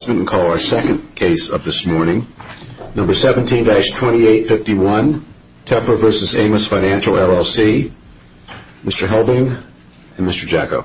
Mr. Helbing and Mr. Jacko.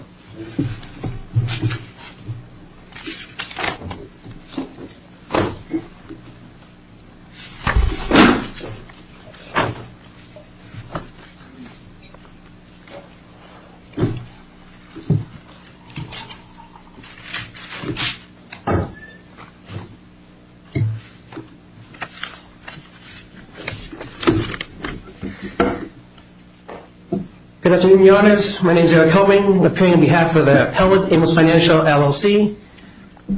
Good afternoon, your honors. My name is Eric Helbing, appearing on behalf of the appellate, Amos Financial, LLC.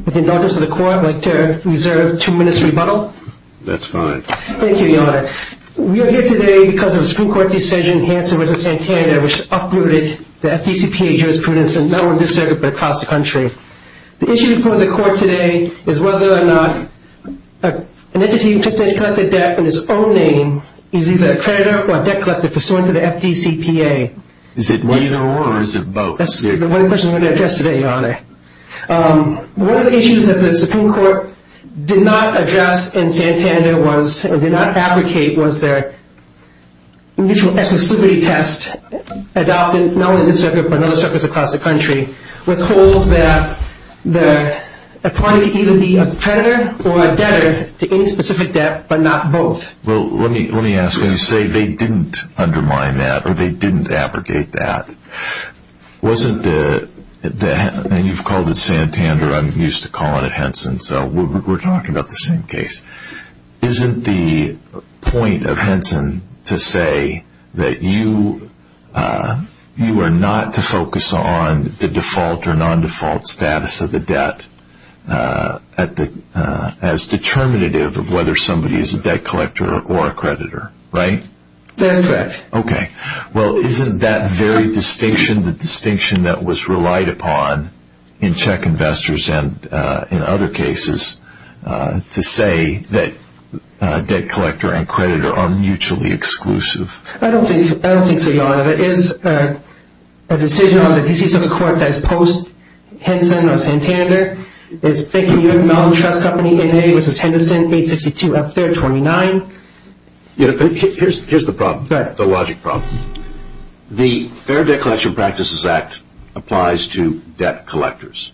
With indulgence of the court, I'd like to reserve two minutes rebuttal. That's fine. Thank you, your honor. We are here today because of a Supreme Court decision in Hanson v. Santana which uprooted the FDCPA jurisprudence in not only this circuit, but across the country. The issue before the court today is whether or not an entity who took the debt in his own name is either a creditor or a debt collector pursuant to the FDCPA. Is it neither or or is it both? That's the one question I'm going to address today, your honor. One of the issues that the Supreme Court did not address in Santana was, or did not advocate was their mutual exclusivity test adopted not only in this circuit, but in other circuits across the country with holds that a party can either be a creditor or a debtor to any specific debt, but not both. Well, let me ask you, you say they didn't undermine that or they didn't advocate that. Wasn't the, and you've called it Santana, I'm used to calling it Henson, so we're talking about the same case. Isn't the point of Henson to say that you are not to focus on the default or non-default status of the debt as determinative of whether somebody is a debt collector or a creditor, right? That's correct. Okay. Well, isn't that very distinction, the distinction that was relied upon in check investors and in other cases to say that debt collector and creditor are mutually exclusive? I don't think so, your honor. It is a decision on the decisions of the court that is post-Henson or Santana. It's Bank of New York Mellon Trust Company, N.A. v. Henderson, page 62 of Fair 29. Here's the problem, the logic problem. The Fair Debt Collection Practices Act applies to debt collectors.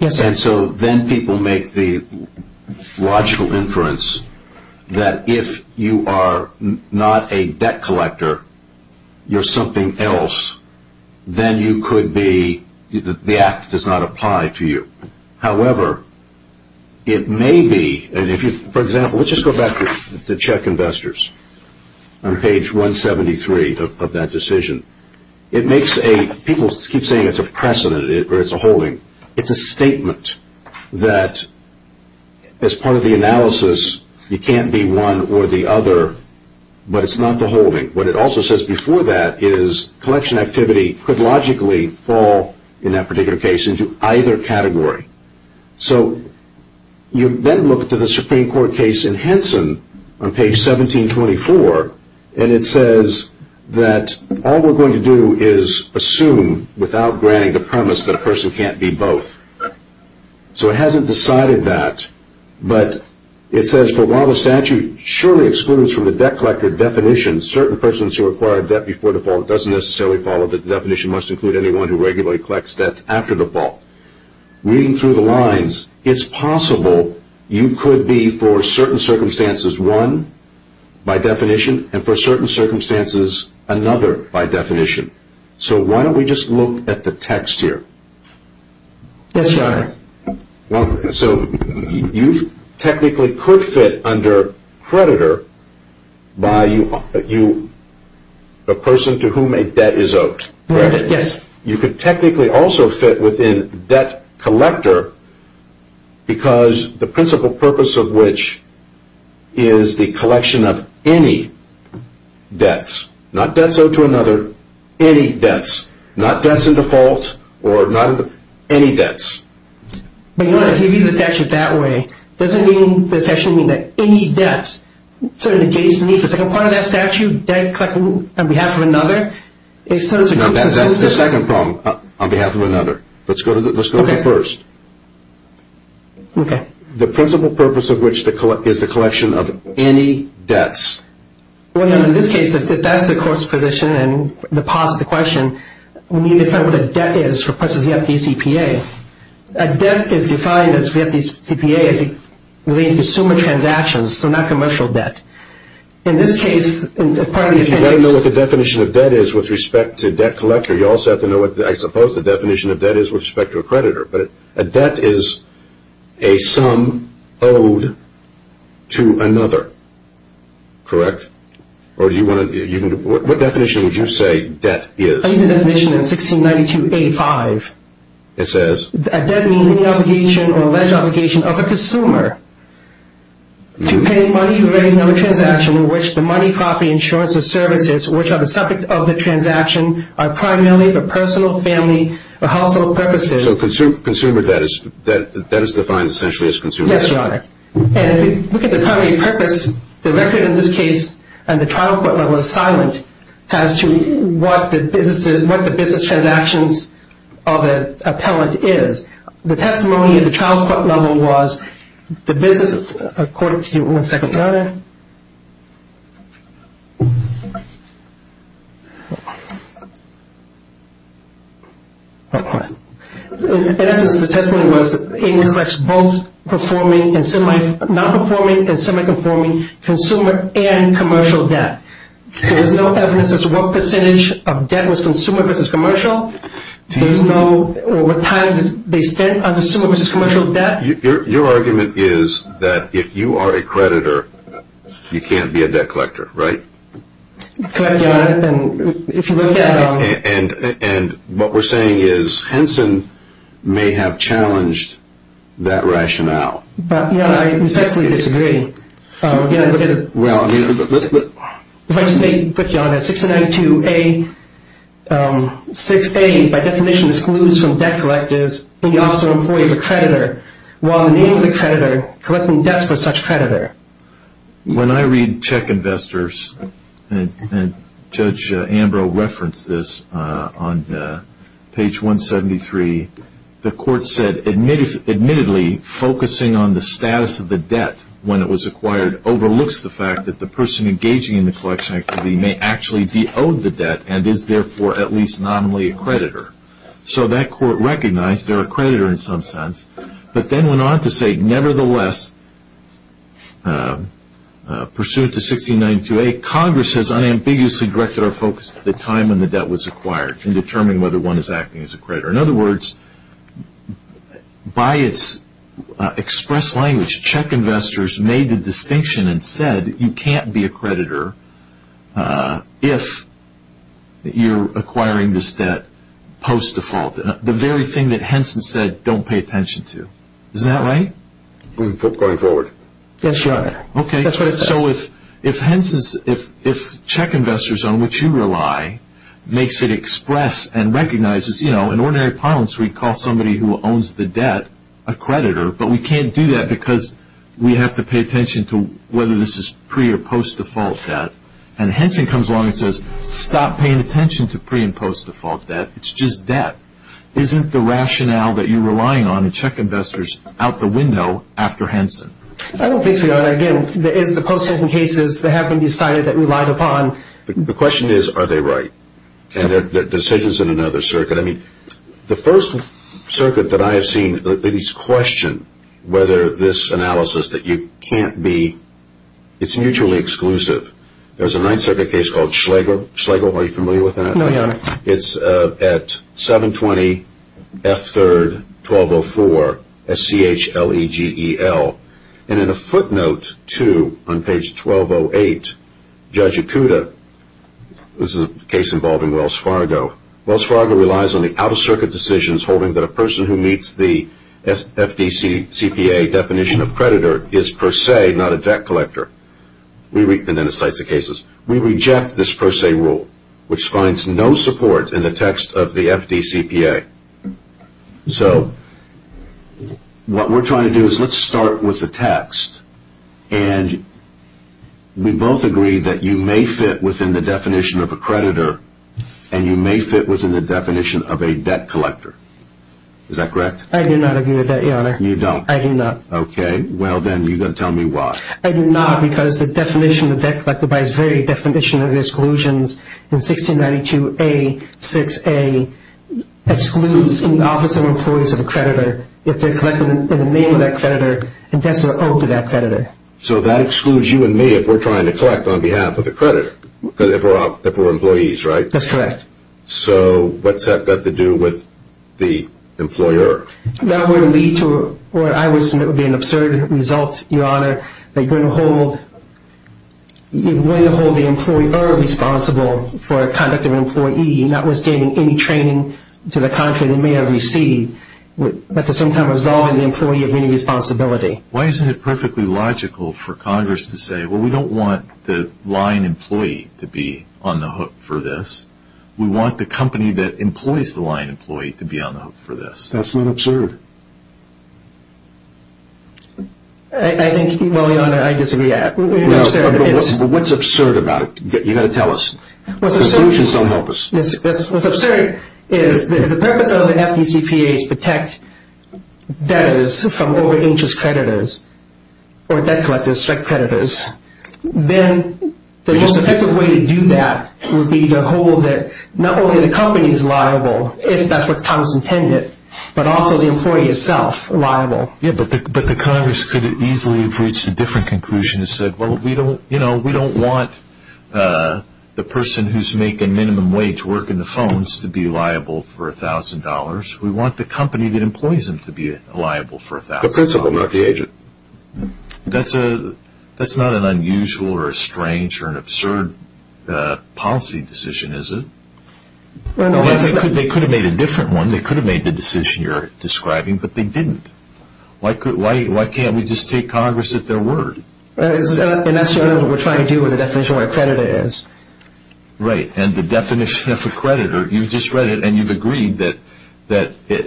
Yes, sir. And so then people make the logical inference that if you are not a debt collector, you're something else, then you could be, the act does not apply to you. However, it may be, and if you, for example, let's just go back to check investors on page 173 of that decision. It makes a, people keep saying it's a precedent or it's a holding. It's a statement that as part of the analysis, you can't be one or the other, but it's not the holding. What it also says before that is collection activity could logically fall in that particular case into either category. So you then look to the Supreme Court case in Henson on page 1724, and it says that all we're going to do is assume without granting the premise that a person can't be both. So it hasn't decided that, but it says, Therefore, while the statute surely excludes from the debt collector definition certain persons who acquire debt before default, it doesn't necessarily follow that the definition must include anyone who regularly collects debts after default. Reading through the lines, it's possible you could be, for certain circumstances, one by definition, and for certain circumstances, another by definition. So why don't we just look at the text here? Yes, Your Honor. So you technically could fit under creditor by a person to whom a debt is owed, correct? Yes. You could technically also fit within debt collector because the principal purpose of which is the collection of any debts, not debts owed to another, any debts, not debts in default, or any debts. But, Your Honor, if you read the statute that way, doesn't this actually mean that any debts, sort of adjacent to the second part of that statute, debt collected on behalf of another, is sort of exclusive? No, that's the second problem, on behalf of another. Let's go to the first. Okay. The principal purpose of which is the collection of any debts. Well, Your Honor, in this case, if that's the course position and the positive question, we need to find what a debt is for, for instance, the FDCPA. A debt is defined as the FDCPA relating to consumer transactions, so not commercial debt. In this case, part of the definition is – You've got to know what the definition of debt is with respect to debt collector. You also have to know what, I suppose, the definition of debt is with respect to a creditor. But a debt is a sum owed to another, correct? Or do you want to – what definition would you say debt is? I use the definition in 1692-85. It says – A debt means any obligation or alleged obligation of a consumer to pay money for various number of transactions in which the money, property, insurance, or services which are the subject of the transaction are primarily for personal, family, or household purposes. So consumer debt is defined essentially as consumer debt. Yes, Your Honor. And if you look at the primary purpose, the record in this case and the trial court level is silent as to what the business transactions of an appellant is. The testimony of the trial court level was the business – I'll quote it to you one second, Your Honor. In essence, the testimony was that it was both performing and semi – not performing and semi-performing consumer and commercial debt. There's no evidence as to what percentage of debt was consumer versus commercial. There's no – or what time they spent on consumer versus commercial debt. Your argument is that if you are a creditor, you can't be a debt collector, right? Correct, Your Honor. And if you look at – And what we're saying is Henson may have challenged that rationale. Your Honor, I respectfully disagree. If I just may put, Your Honor, 692-A – collecting debts for such creditor. When I read check investors, and Judge Ambrose referenced this on page 173, the court said admittedly focusing on the status of the debt when it was acquired overlooks the fact that the person engaging in the collection activity may actually de-owed the debt and is therefore at least nominally a creditor. So that court recognized they're a creditor in some sense. But then went on to say, nevertheless, pursuant to 692-A, Congress has unambiguously directed our focus to the time when the debt was acquired in determining whether one is acting as a creditor. In other words, by its express language, check investors made the distinction and said you can't be a creditor if you're acquiring this debt post-default. The very thing that Henson said, don't pay attention to. Isn't that right? Going forward. That's right. Okay. So if check investors on which you rely makes it express and recognizes, you know, in ordinary parlance we call somebody who owns the debt a creditor, but we can't do that because we have to pay attention to whether this is pre- or post-default debt. And Henson comes along and says, stop paying attention to pre- and post-default debt. It's just debt. Isn't the rationale that you're relying on in check investors out the window after Henson? I don't think so. Again, it's the post-Henson cases that have been decided that relied upon. The question is, are they right? And they're decisions in another circuit. I mean, the first circuit that I have seen that is questioned whether this analysis that you can't be, it's mutually exclusive. There's a Ninth Circuit case called Schlegel. Schlegel, are you familiar with that? No, Your Honor. It's at 720F3-1204, S-C-H-L-E-G-E-L. And in a footnote to, on page 1208, Judge Ikuda, this is a case involving Wells Fargo. Wells Fargo relies on the out-of-circuit decisions holding that a person who meets the FDCPA definition of creditor is per se not a debt collector. And then it cites the cases. We reject this per se rule, which finds no support in the text of the FDCPA. So what we're trying to do is let's start with the text. And we both agree that you may fit within the definition of a creditor, and you may fit within the definition of a debt collector. Is that correct? I do not agree with that, Your Honor. You don't? I do not. Okay. Well, then you've got to tell me why. I do not, because the definition of debt collector by its very definition of exclusions in 1692A-6A excludes in the office of employees of a creditor if they're collected in the name of that creditor and that's owed to that creditor. So that excludes you and me if we're trying to collect on behalf of the creditor, because if we're employees, right? That's correct. So what's that got to do with the employer? That would lead to what I would submit would be an absurd result, Your Honor, that you're going to hold the employee or responsible for conduct of an employee, notwithstanding any training to the contrary they may have received, but at the same time resolving the employee of any responsibility. Why isn't it perfectly logical for Congress to say, well, we don't want the line employee to be on the hook for this. We want the company that employs the line employee to be on the hook for this. That's not absurd. I think, well, Your Honor, I disagree. What's absurd about it? You've got to tell us. The solutions don't help us. What's absurd is the purpose of the FDCPA is to protect debtors from over-agents creditors or debt collectors strike creditors. Then the most effective way to do that would be to hold that not only the company is liable, if that's what Congress intended, but also the employee itself liable. But the Congress could easily have reached a different conclusion and said, well, we don't want the person who's making minimum wage work in the phones to be liable for $1,000. We want the company that employs them to be liable for $1,000. The principal, not the agent. That's not an unusual or a strange or an absurd policy decision, is it? They could have made a different one. They could have made the decision you're describing, but they didn't. Why can't we just take Congress at their word? That's what we're trying to do with the definition of what a creditor is. Right, and the definition of a creditor, you've just read it, and you've agreed that it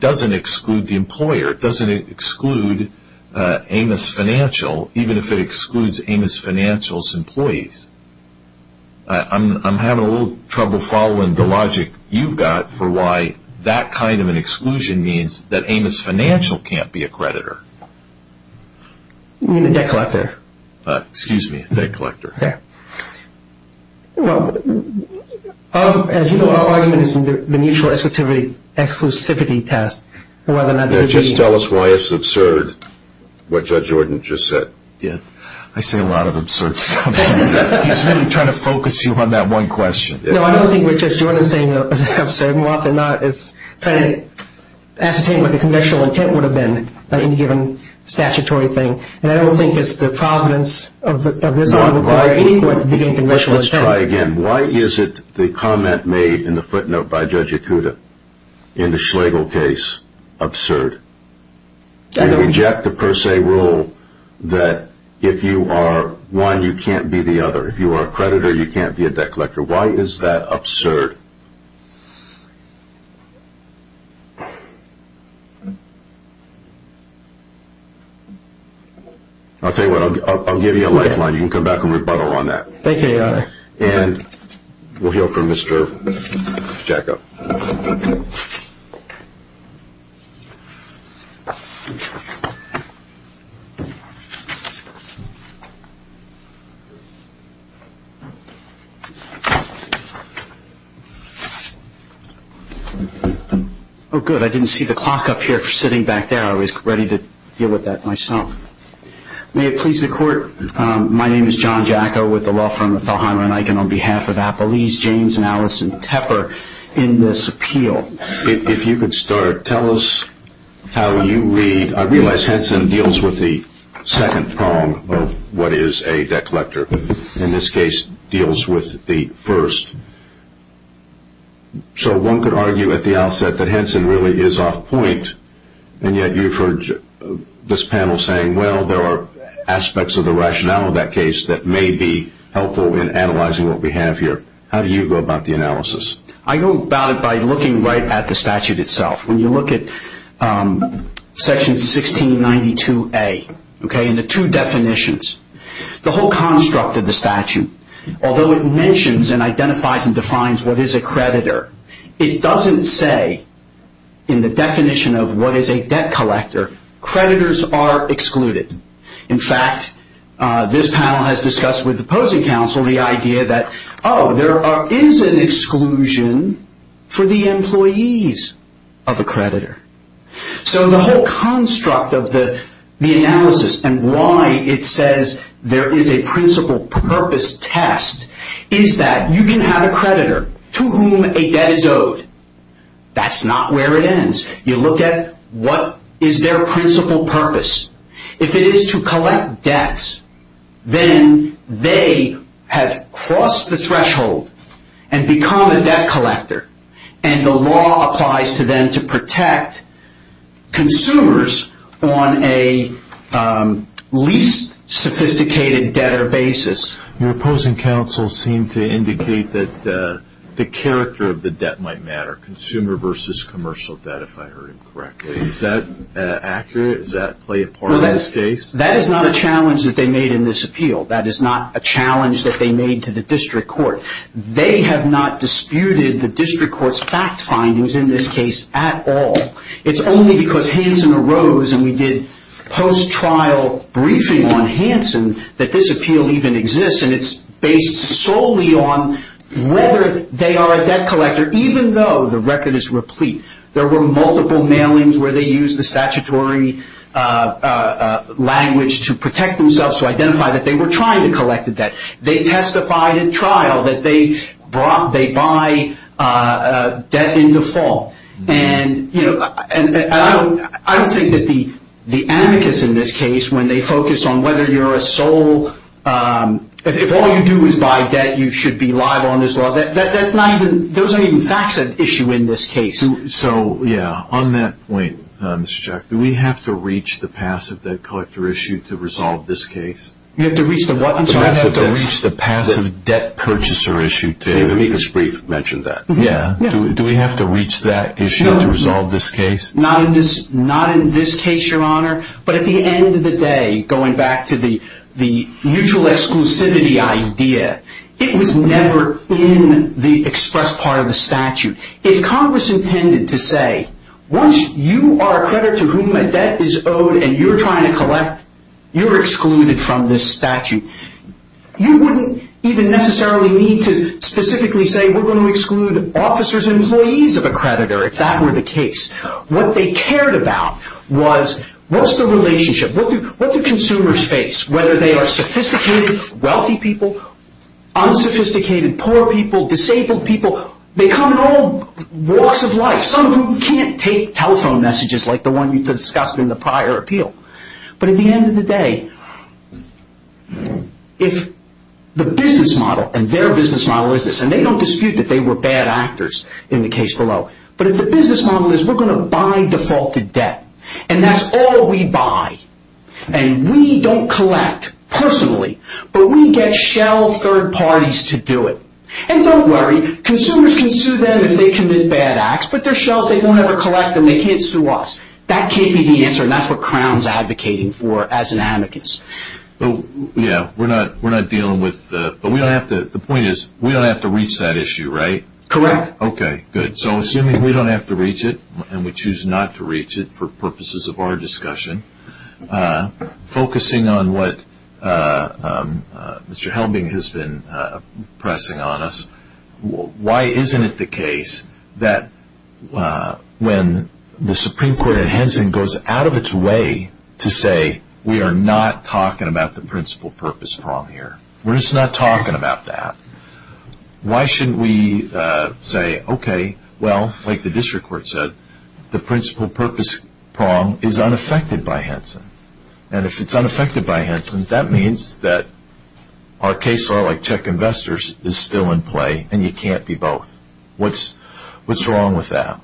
doesn't exclude the employer. It doesn't exclude Amos Financial, even if it excludes Amos Financial's employees. I'm having a little trouble following the logic you've got for why that kind of an exclusion means that Amos Financial can't be a creditor. You mean a debt collector. Excuse me, a debt collector. Well, as you know, our argument is in the mutual exclusivity test. Just tell us why it's absurd what Judge Jordan just said. I say a lot of absurd stuff. He's really trying to focus you on that one question. No, I don't think what Judge Jordan is saying is absurd. More often than not, it's trying to ascertain what the conventional intent would have been by any given statutory thing. And I don't think it's the providence of this law to require any court to begin conventional intent. Let's try again. Why is it the comment made in the footnote by Judge Ikuda in the Schlegel case absurd? And reject the per se rule that if you are one, you can't be the other. If you are a creditor, you can't be a debt collector. Why is that absurd? I'll tell you what. I'll give you a lifeline. You can come back and rebuttal on that. Thank you, Your Honor. And we'll hear from Mr. Giacco. Oh, good. I didn't see the clock up here sitting back there. I was ready to deal with that myself. May it please the Court, My name is John Giacco with the law firm of Thelheimer & Eichen on behalf of Apolise James and Allison Tepper in this appeal. If you could start, tell us how you read. I realize Henson deals with the second prong of what is a debt collector. In this case, deals with the first. So one could argue at the outset that Henson really is off point, and yet you've heard this panel saying, well, there are aspects of the rationale of that case that may be helpful in analyzing what we have here. How do you go about the analysis? I go about it by looking right at the statute itself. When you look at Section 1692A, okay, and the two definitions, the whole construct of the statute, although it mentions and identifies and defines what is a creditor, it doesn't say in the definition of what is a debt collector, creditors are excluded. In fact, this panel has discussed with opposing counsel the idea that, oh, there is an exclusion for the employees of a creditor. So the whole construct of the analysis and why it says there is a principal purpose test is that you can have a creditor to whom a debt is owed. That's not where it ends. You look at what is their principal purpose. If it is to collect debts, then they have crossed the threshold and become a debt collector, and the law applies to them to protect consumers on a least sophisticated debtor basis. Your opposing counsel seemed to indicate that the character of the debt might matter, consumer versus commercial debt, if I heard him correctly. Is that accurate? Does that play a part in this case? That is not a challenge that they made in this appeal. That is not a challenge that they made to the district court. They have not disputed the district court's fact findings in this case at all. It's only because Hansen arose and we did post-trial briefing on Hansen that this appeal even exists, and it's based solely on whether they are a debt collector, even though the record is replete. There were multiple mailings where they used the statutory language to protect themselves, to identify that they were trying to collect a debt. They testified at trial that they buy debt into default. I don't think that the amicus in this case, when they focus on whether you're a sole, if all you do is buy debt, you should be liable under this law. Those aren't even facts at issue in this case. So, yeah, on that point, Mr. Chuck, do we have to reach the passive debt collector issued to resolve this case? You have to reach the what? You have to reach the passive debt purchaser issued. Let me just briefly mention that. Yeah. Do we have to reach that issue to resolve this case? Not in this case, Your Honor. But at the end of the day, going back to the mutual exclusivity idea, it was never in the express part of the statute. If Congress intended to say, once you are a creditor to whom a debt is owed and you're trying to collect, you're excluded from this statute, you wouldn't even necessarily need to specifically say we're going to exclude officers and employees of a creditor, if that were the case. What they cared about was what's the relationship, what do consumers face, whether they are sophisticated, wealthy people, unsophisticated, poor people, disabled people. They come in all walks of life. Some of whom can't take telephone messages like the one you discussed in the prior appeal. But at the end of the day, if the business model, and their business model is this, and they don't dispute that they were bad actors in the case below, but if the business model is we're going to buy defaulted debt, and that's all we buy, and we don't collect personally, but we get shell third parties to do it. And don't worry, consumers can sue them if they commit bad acts, but they're shells, they don't ever collect them, they can't sue us. That can't be the answer, and that's what Crown's advocating for as an amicus. Yeah, we're not dealing with, but the point is we don't have to reach that issue, right? Correct. Okay, good. So assuming we don't have to reach it, and we choose not to reach it for purposes of our discussion, focusing on what Mr. Helbing has been pressing on us, why isn't it the case that when the Supreme Court in Henson goes out of its way to say, we are not talking about the principal purpose prong here. We're just not talking about that. Why shouldn't we say, okay, well, like the district court said, the principal purpose prong is unaffected by Henson, and if it's unaffected by Henson, that means that our case, as far like check investors, is still in play, and you can't be both. What's wrong with that?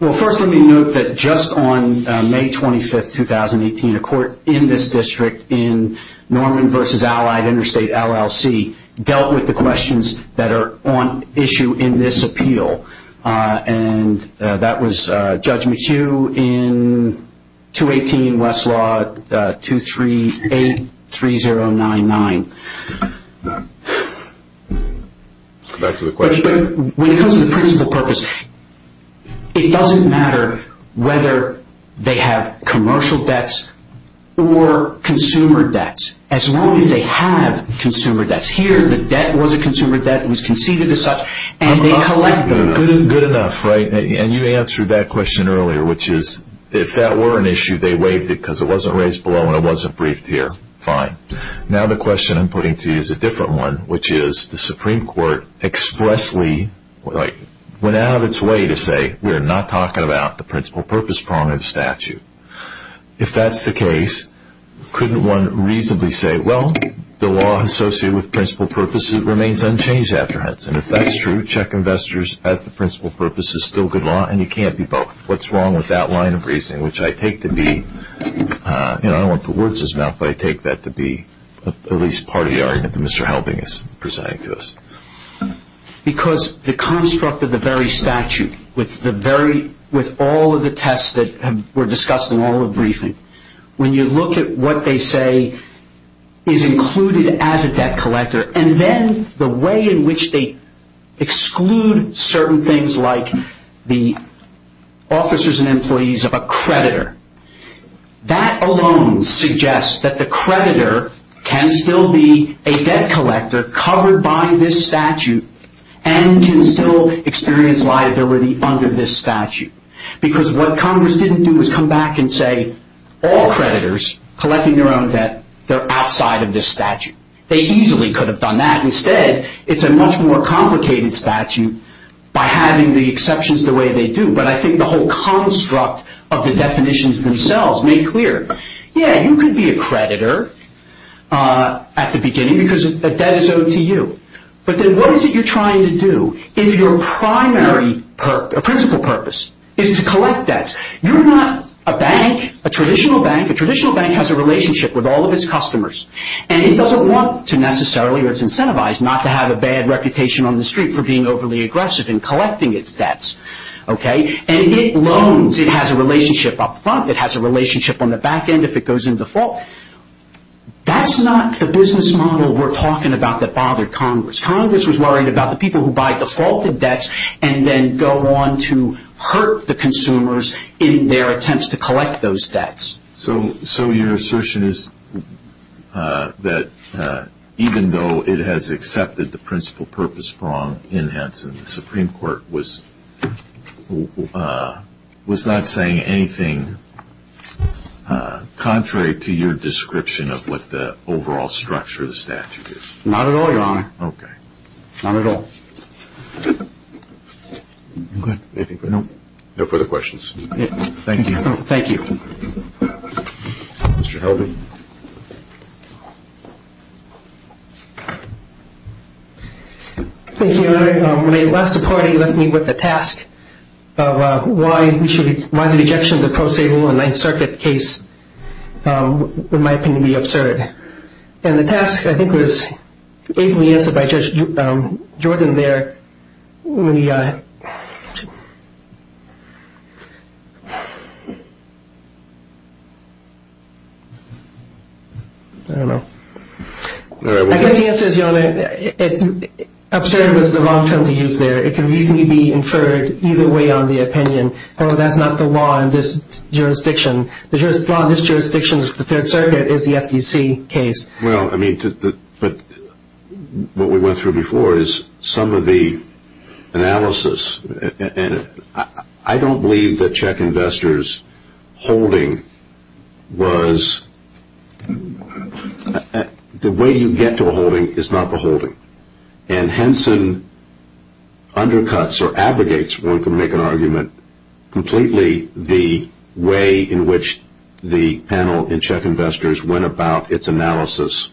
Well, first let me note that just on May 25th, 2018, a court in this district in Norman v. Allied Interstate LLC dealt with the questions that are on issue in this appeal, and that was Judge McHugh in 218 Westlaw 23099. Back to the question. When it comes to the principal purpose, it doesn't matter whether they have commercial debts or consumer debts, as long as they have consumer debts. Here, the debt was a consumer debt. It was conceded as such, and they collect them. Good enough, right? And you answered that question earlier, which is, if that were an issue, they waived it because it wasn't raised below and it wasn't briefed here. Fine. Now the question I'm putting to you is a different one, which is the Supreme Court expressly went out of its way to say, we are not talking about the principal purpose prong of the statute. If that's the case, couldn't one reasonably say, well, the law associated with principal purpose remains unchanged after Hudson. If that's true, check investors as the principal purpose is still good law, and you can't be both. What's wrong with that line of reasoning, which I take to be, I don't want to put words in his mouth, but I take that to be at least part of the argument that Mr. Halving is presenting to us. Because the construct of the very statute, with all of the tests that were discussed in all the briefing, when you look at what they say is included as a debt collector, and then the way in which they exclude certain things like the officers and employees of a creditor, that alone suggests that the creditor can still be a debt collector covered by this statute, and can still experience liability under this statute. Because what Congress didn't do was come back and say, all creditors collecting their own debt, they're outside of this statute. They easily could have done that. Instead, it's a much more complicated statute by having the exceptions the way they do. But I think the whole construct of the definitions themselves make clear, yeah, you can be a creditor at the beginning because a debt is owed to you. But then what is it you're trying to do? If your primary principle purpose is to collect debts, you're not a bank, a traditional bank. A traditional bank has a relationship with all of its customers. And it doesn't want to necessarily, or it's incentivized, not to have a bad reputation on the street for being overly aggressive in collecting its debts. And it loans. It has a relationship up front. It has a relationship on the back end if it goes into default. That's not the business model we're talking about that bothered Congress. Congress was worried about the people who buy defaulted debts and then go on to hurt the consumers in their attempts to collect those debts. So your assertion is that even though it has accepted the principle purpose wrong in Hanson, the Supreme Court was not saying anything contrary to your description of what the overall structure of the statute is? Not at all, Your Honor. Okay. Not at all. Okay. Anything further? No. No further questions. Thank you. Thank you. Mr. Helby. Thank you, Your Honor. When I left the party, you left me with the task of why the rejection of the pro se rule in Ninth Circuit case, in my opinion, would be absurd. And the task, I think, was ably answered by Judge Jordan there. I don't know. I guess the answer is, Your Honor, absurd was the wrong term to use there. It can easily be inferred either way on the opinion, oh, that's not the law in this jurisdiction. The law in this jurisdiction of the Third Circuit is the FTC case. Well, I mean, but what we went through before is some of the analysis. And I don't believe that check investors' holding was the way you get to a holding is not the holding. And Henson undercuts or abrogates, one can make an argument, completely the way in which the panel in check investors went about its analysis.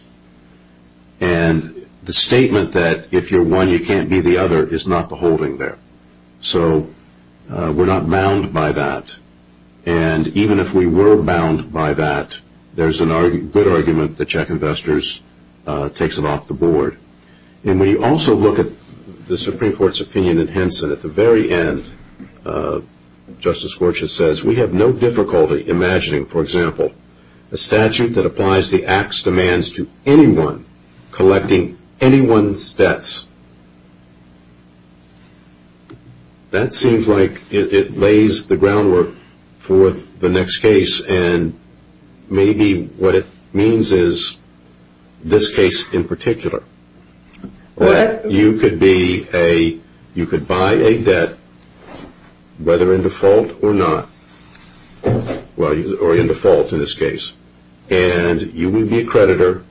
And the statement that if you're one, you can't be the other is not the holding there. So we're not bound by that. And even if we were bound by that, there's a good argument that check investors takes it off the board. And when you also look at the Supreme Court's opinion in Henson, at the very end, Justice Gorsuch says we have no difficulty imagining, for example, a statute that applies the Act's demands to anyone collecting anyone's debts. That seems like it lays the groundwork for the next case, and maybe what it means is this case in particular. You could buy a debt, whether in default or not, or in default in this case, and you would be a creditor,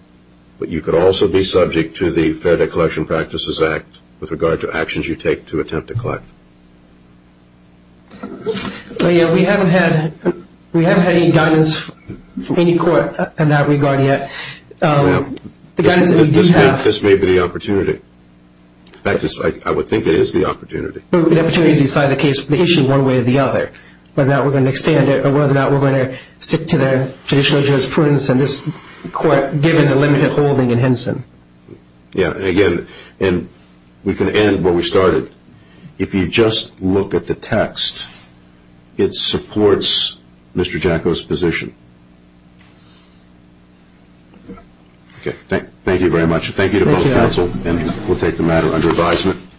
but you could also be subject to the Fair Debt Collection Practices Act with regard to actions you take to attempt to collect. We haven't had any guidance from any court in that regard yet. This may be the opportunity. In fact, I would think it is the opportunity. An opportunity to decide the case, the issue one way or the other, whether or not we're going to expand it or whether or not we're going to stick to the traditional jurisprudence, and this court, given the limited holding in Henson. Again, we can end where we started. If you just look at the text, it supports Mr. Jacko's position. Thank you very much. Thank you to both counsel, and we'll take the matter under advisement.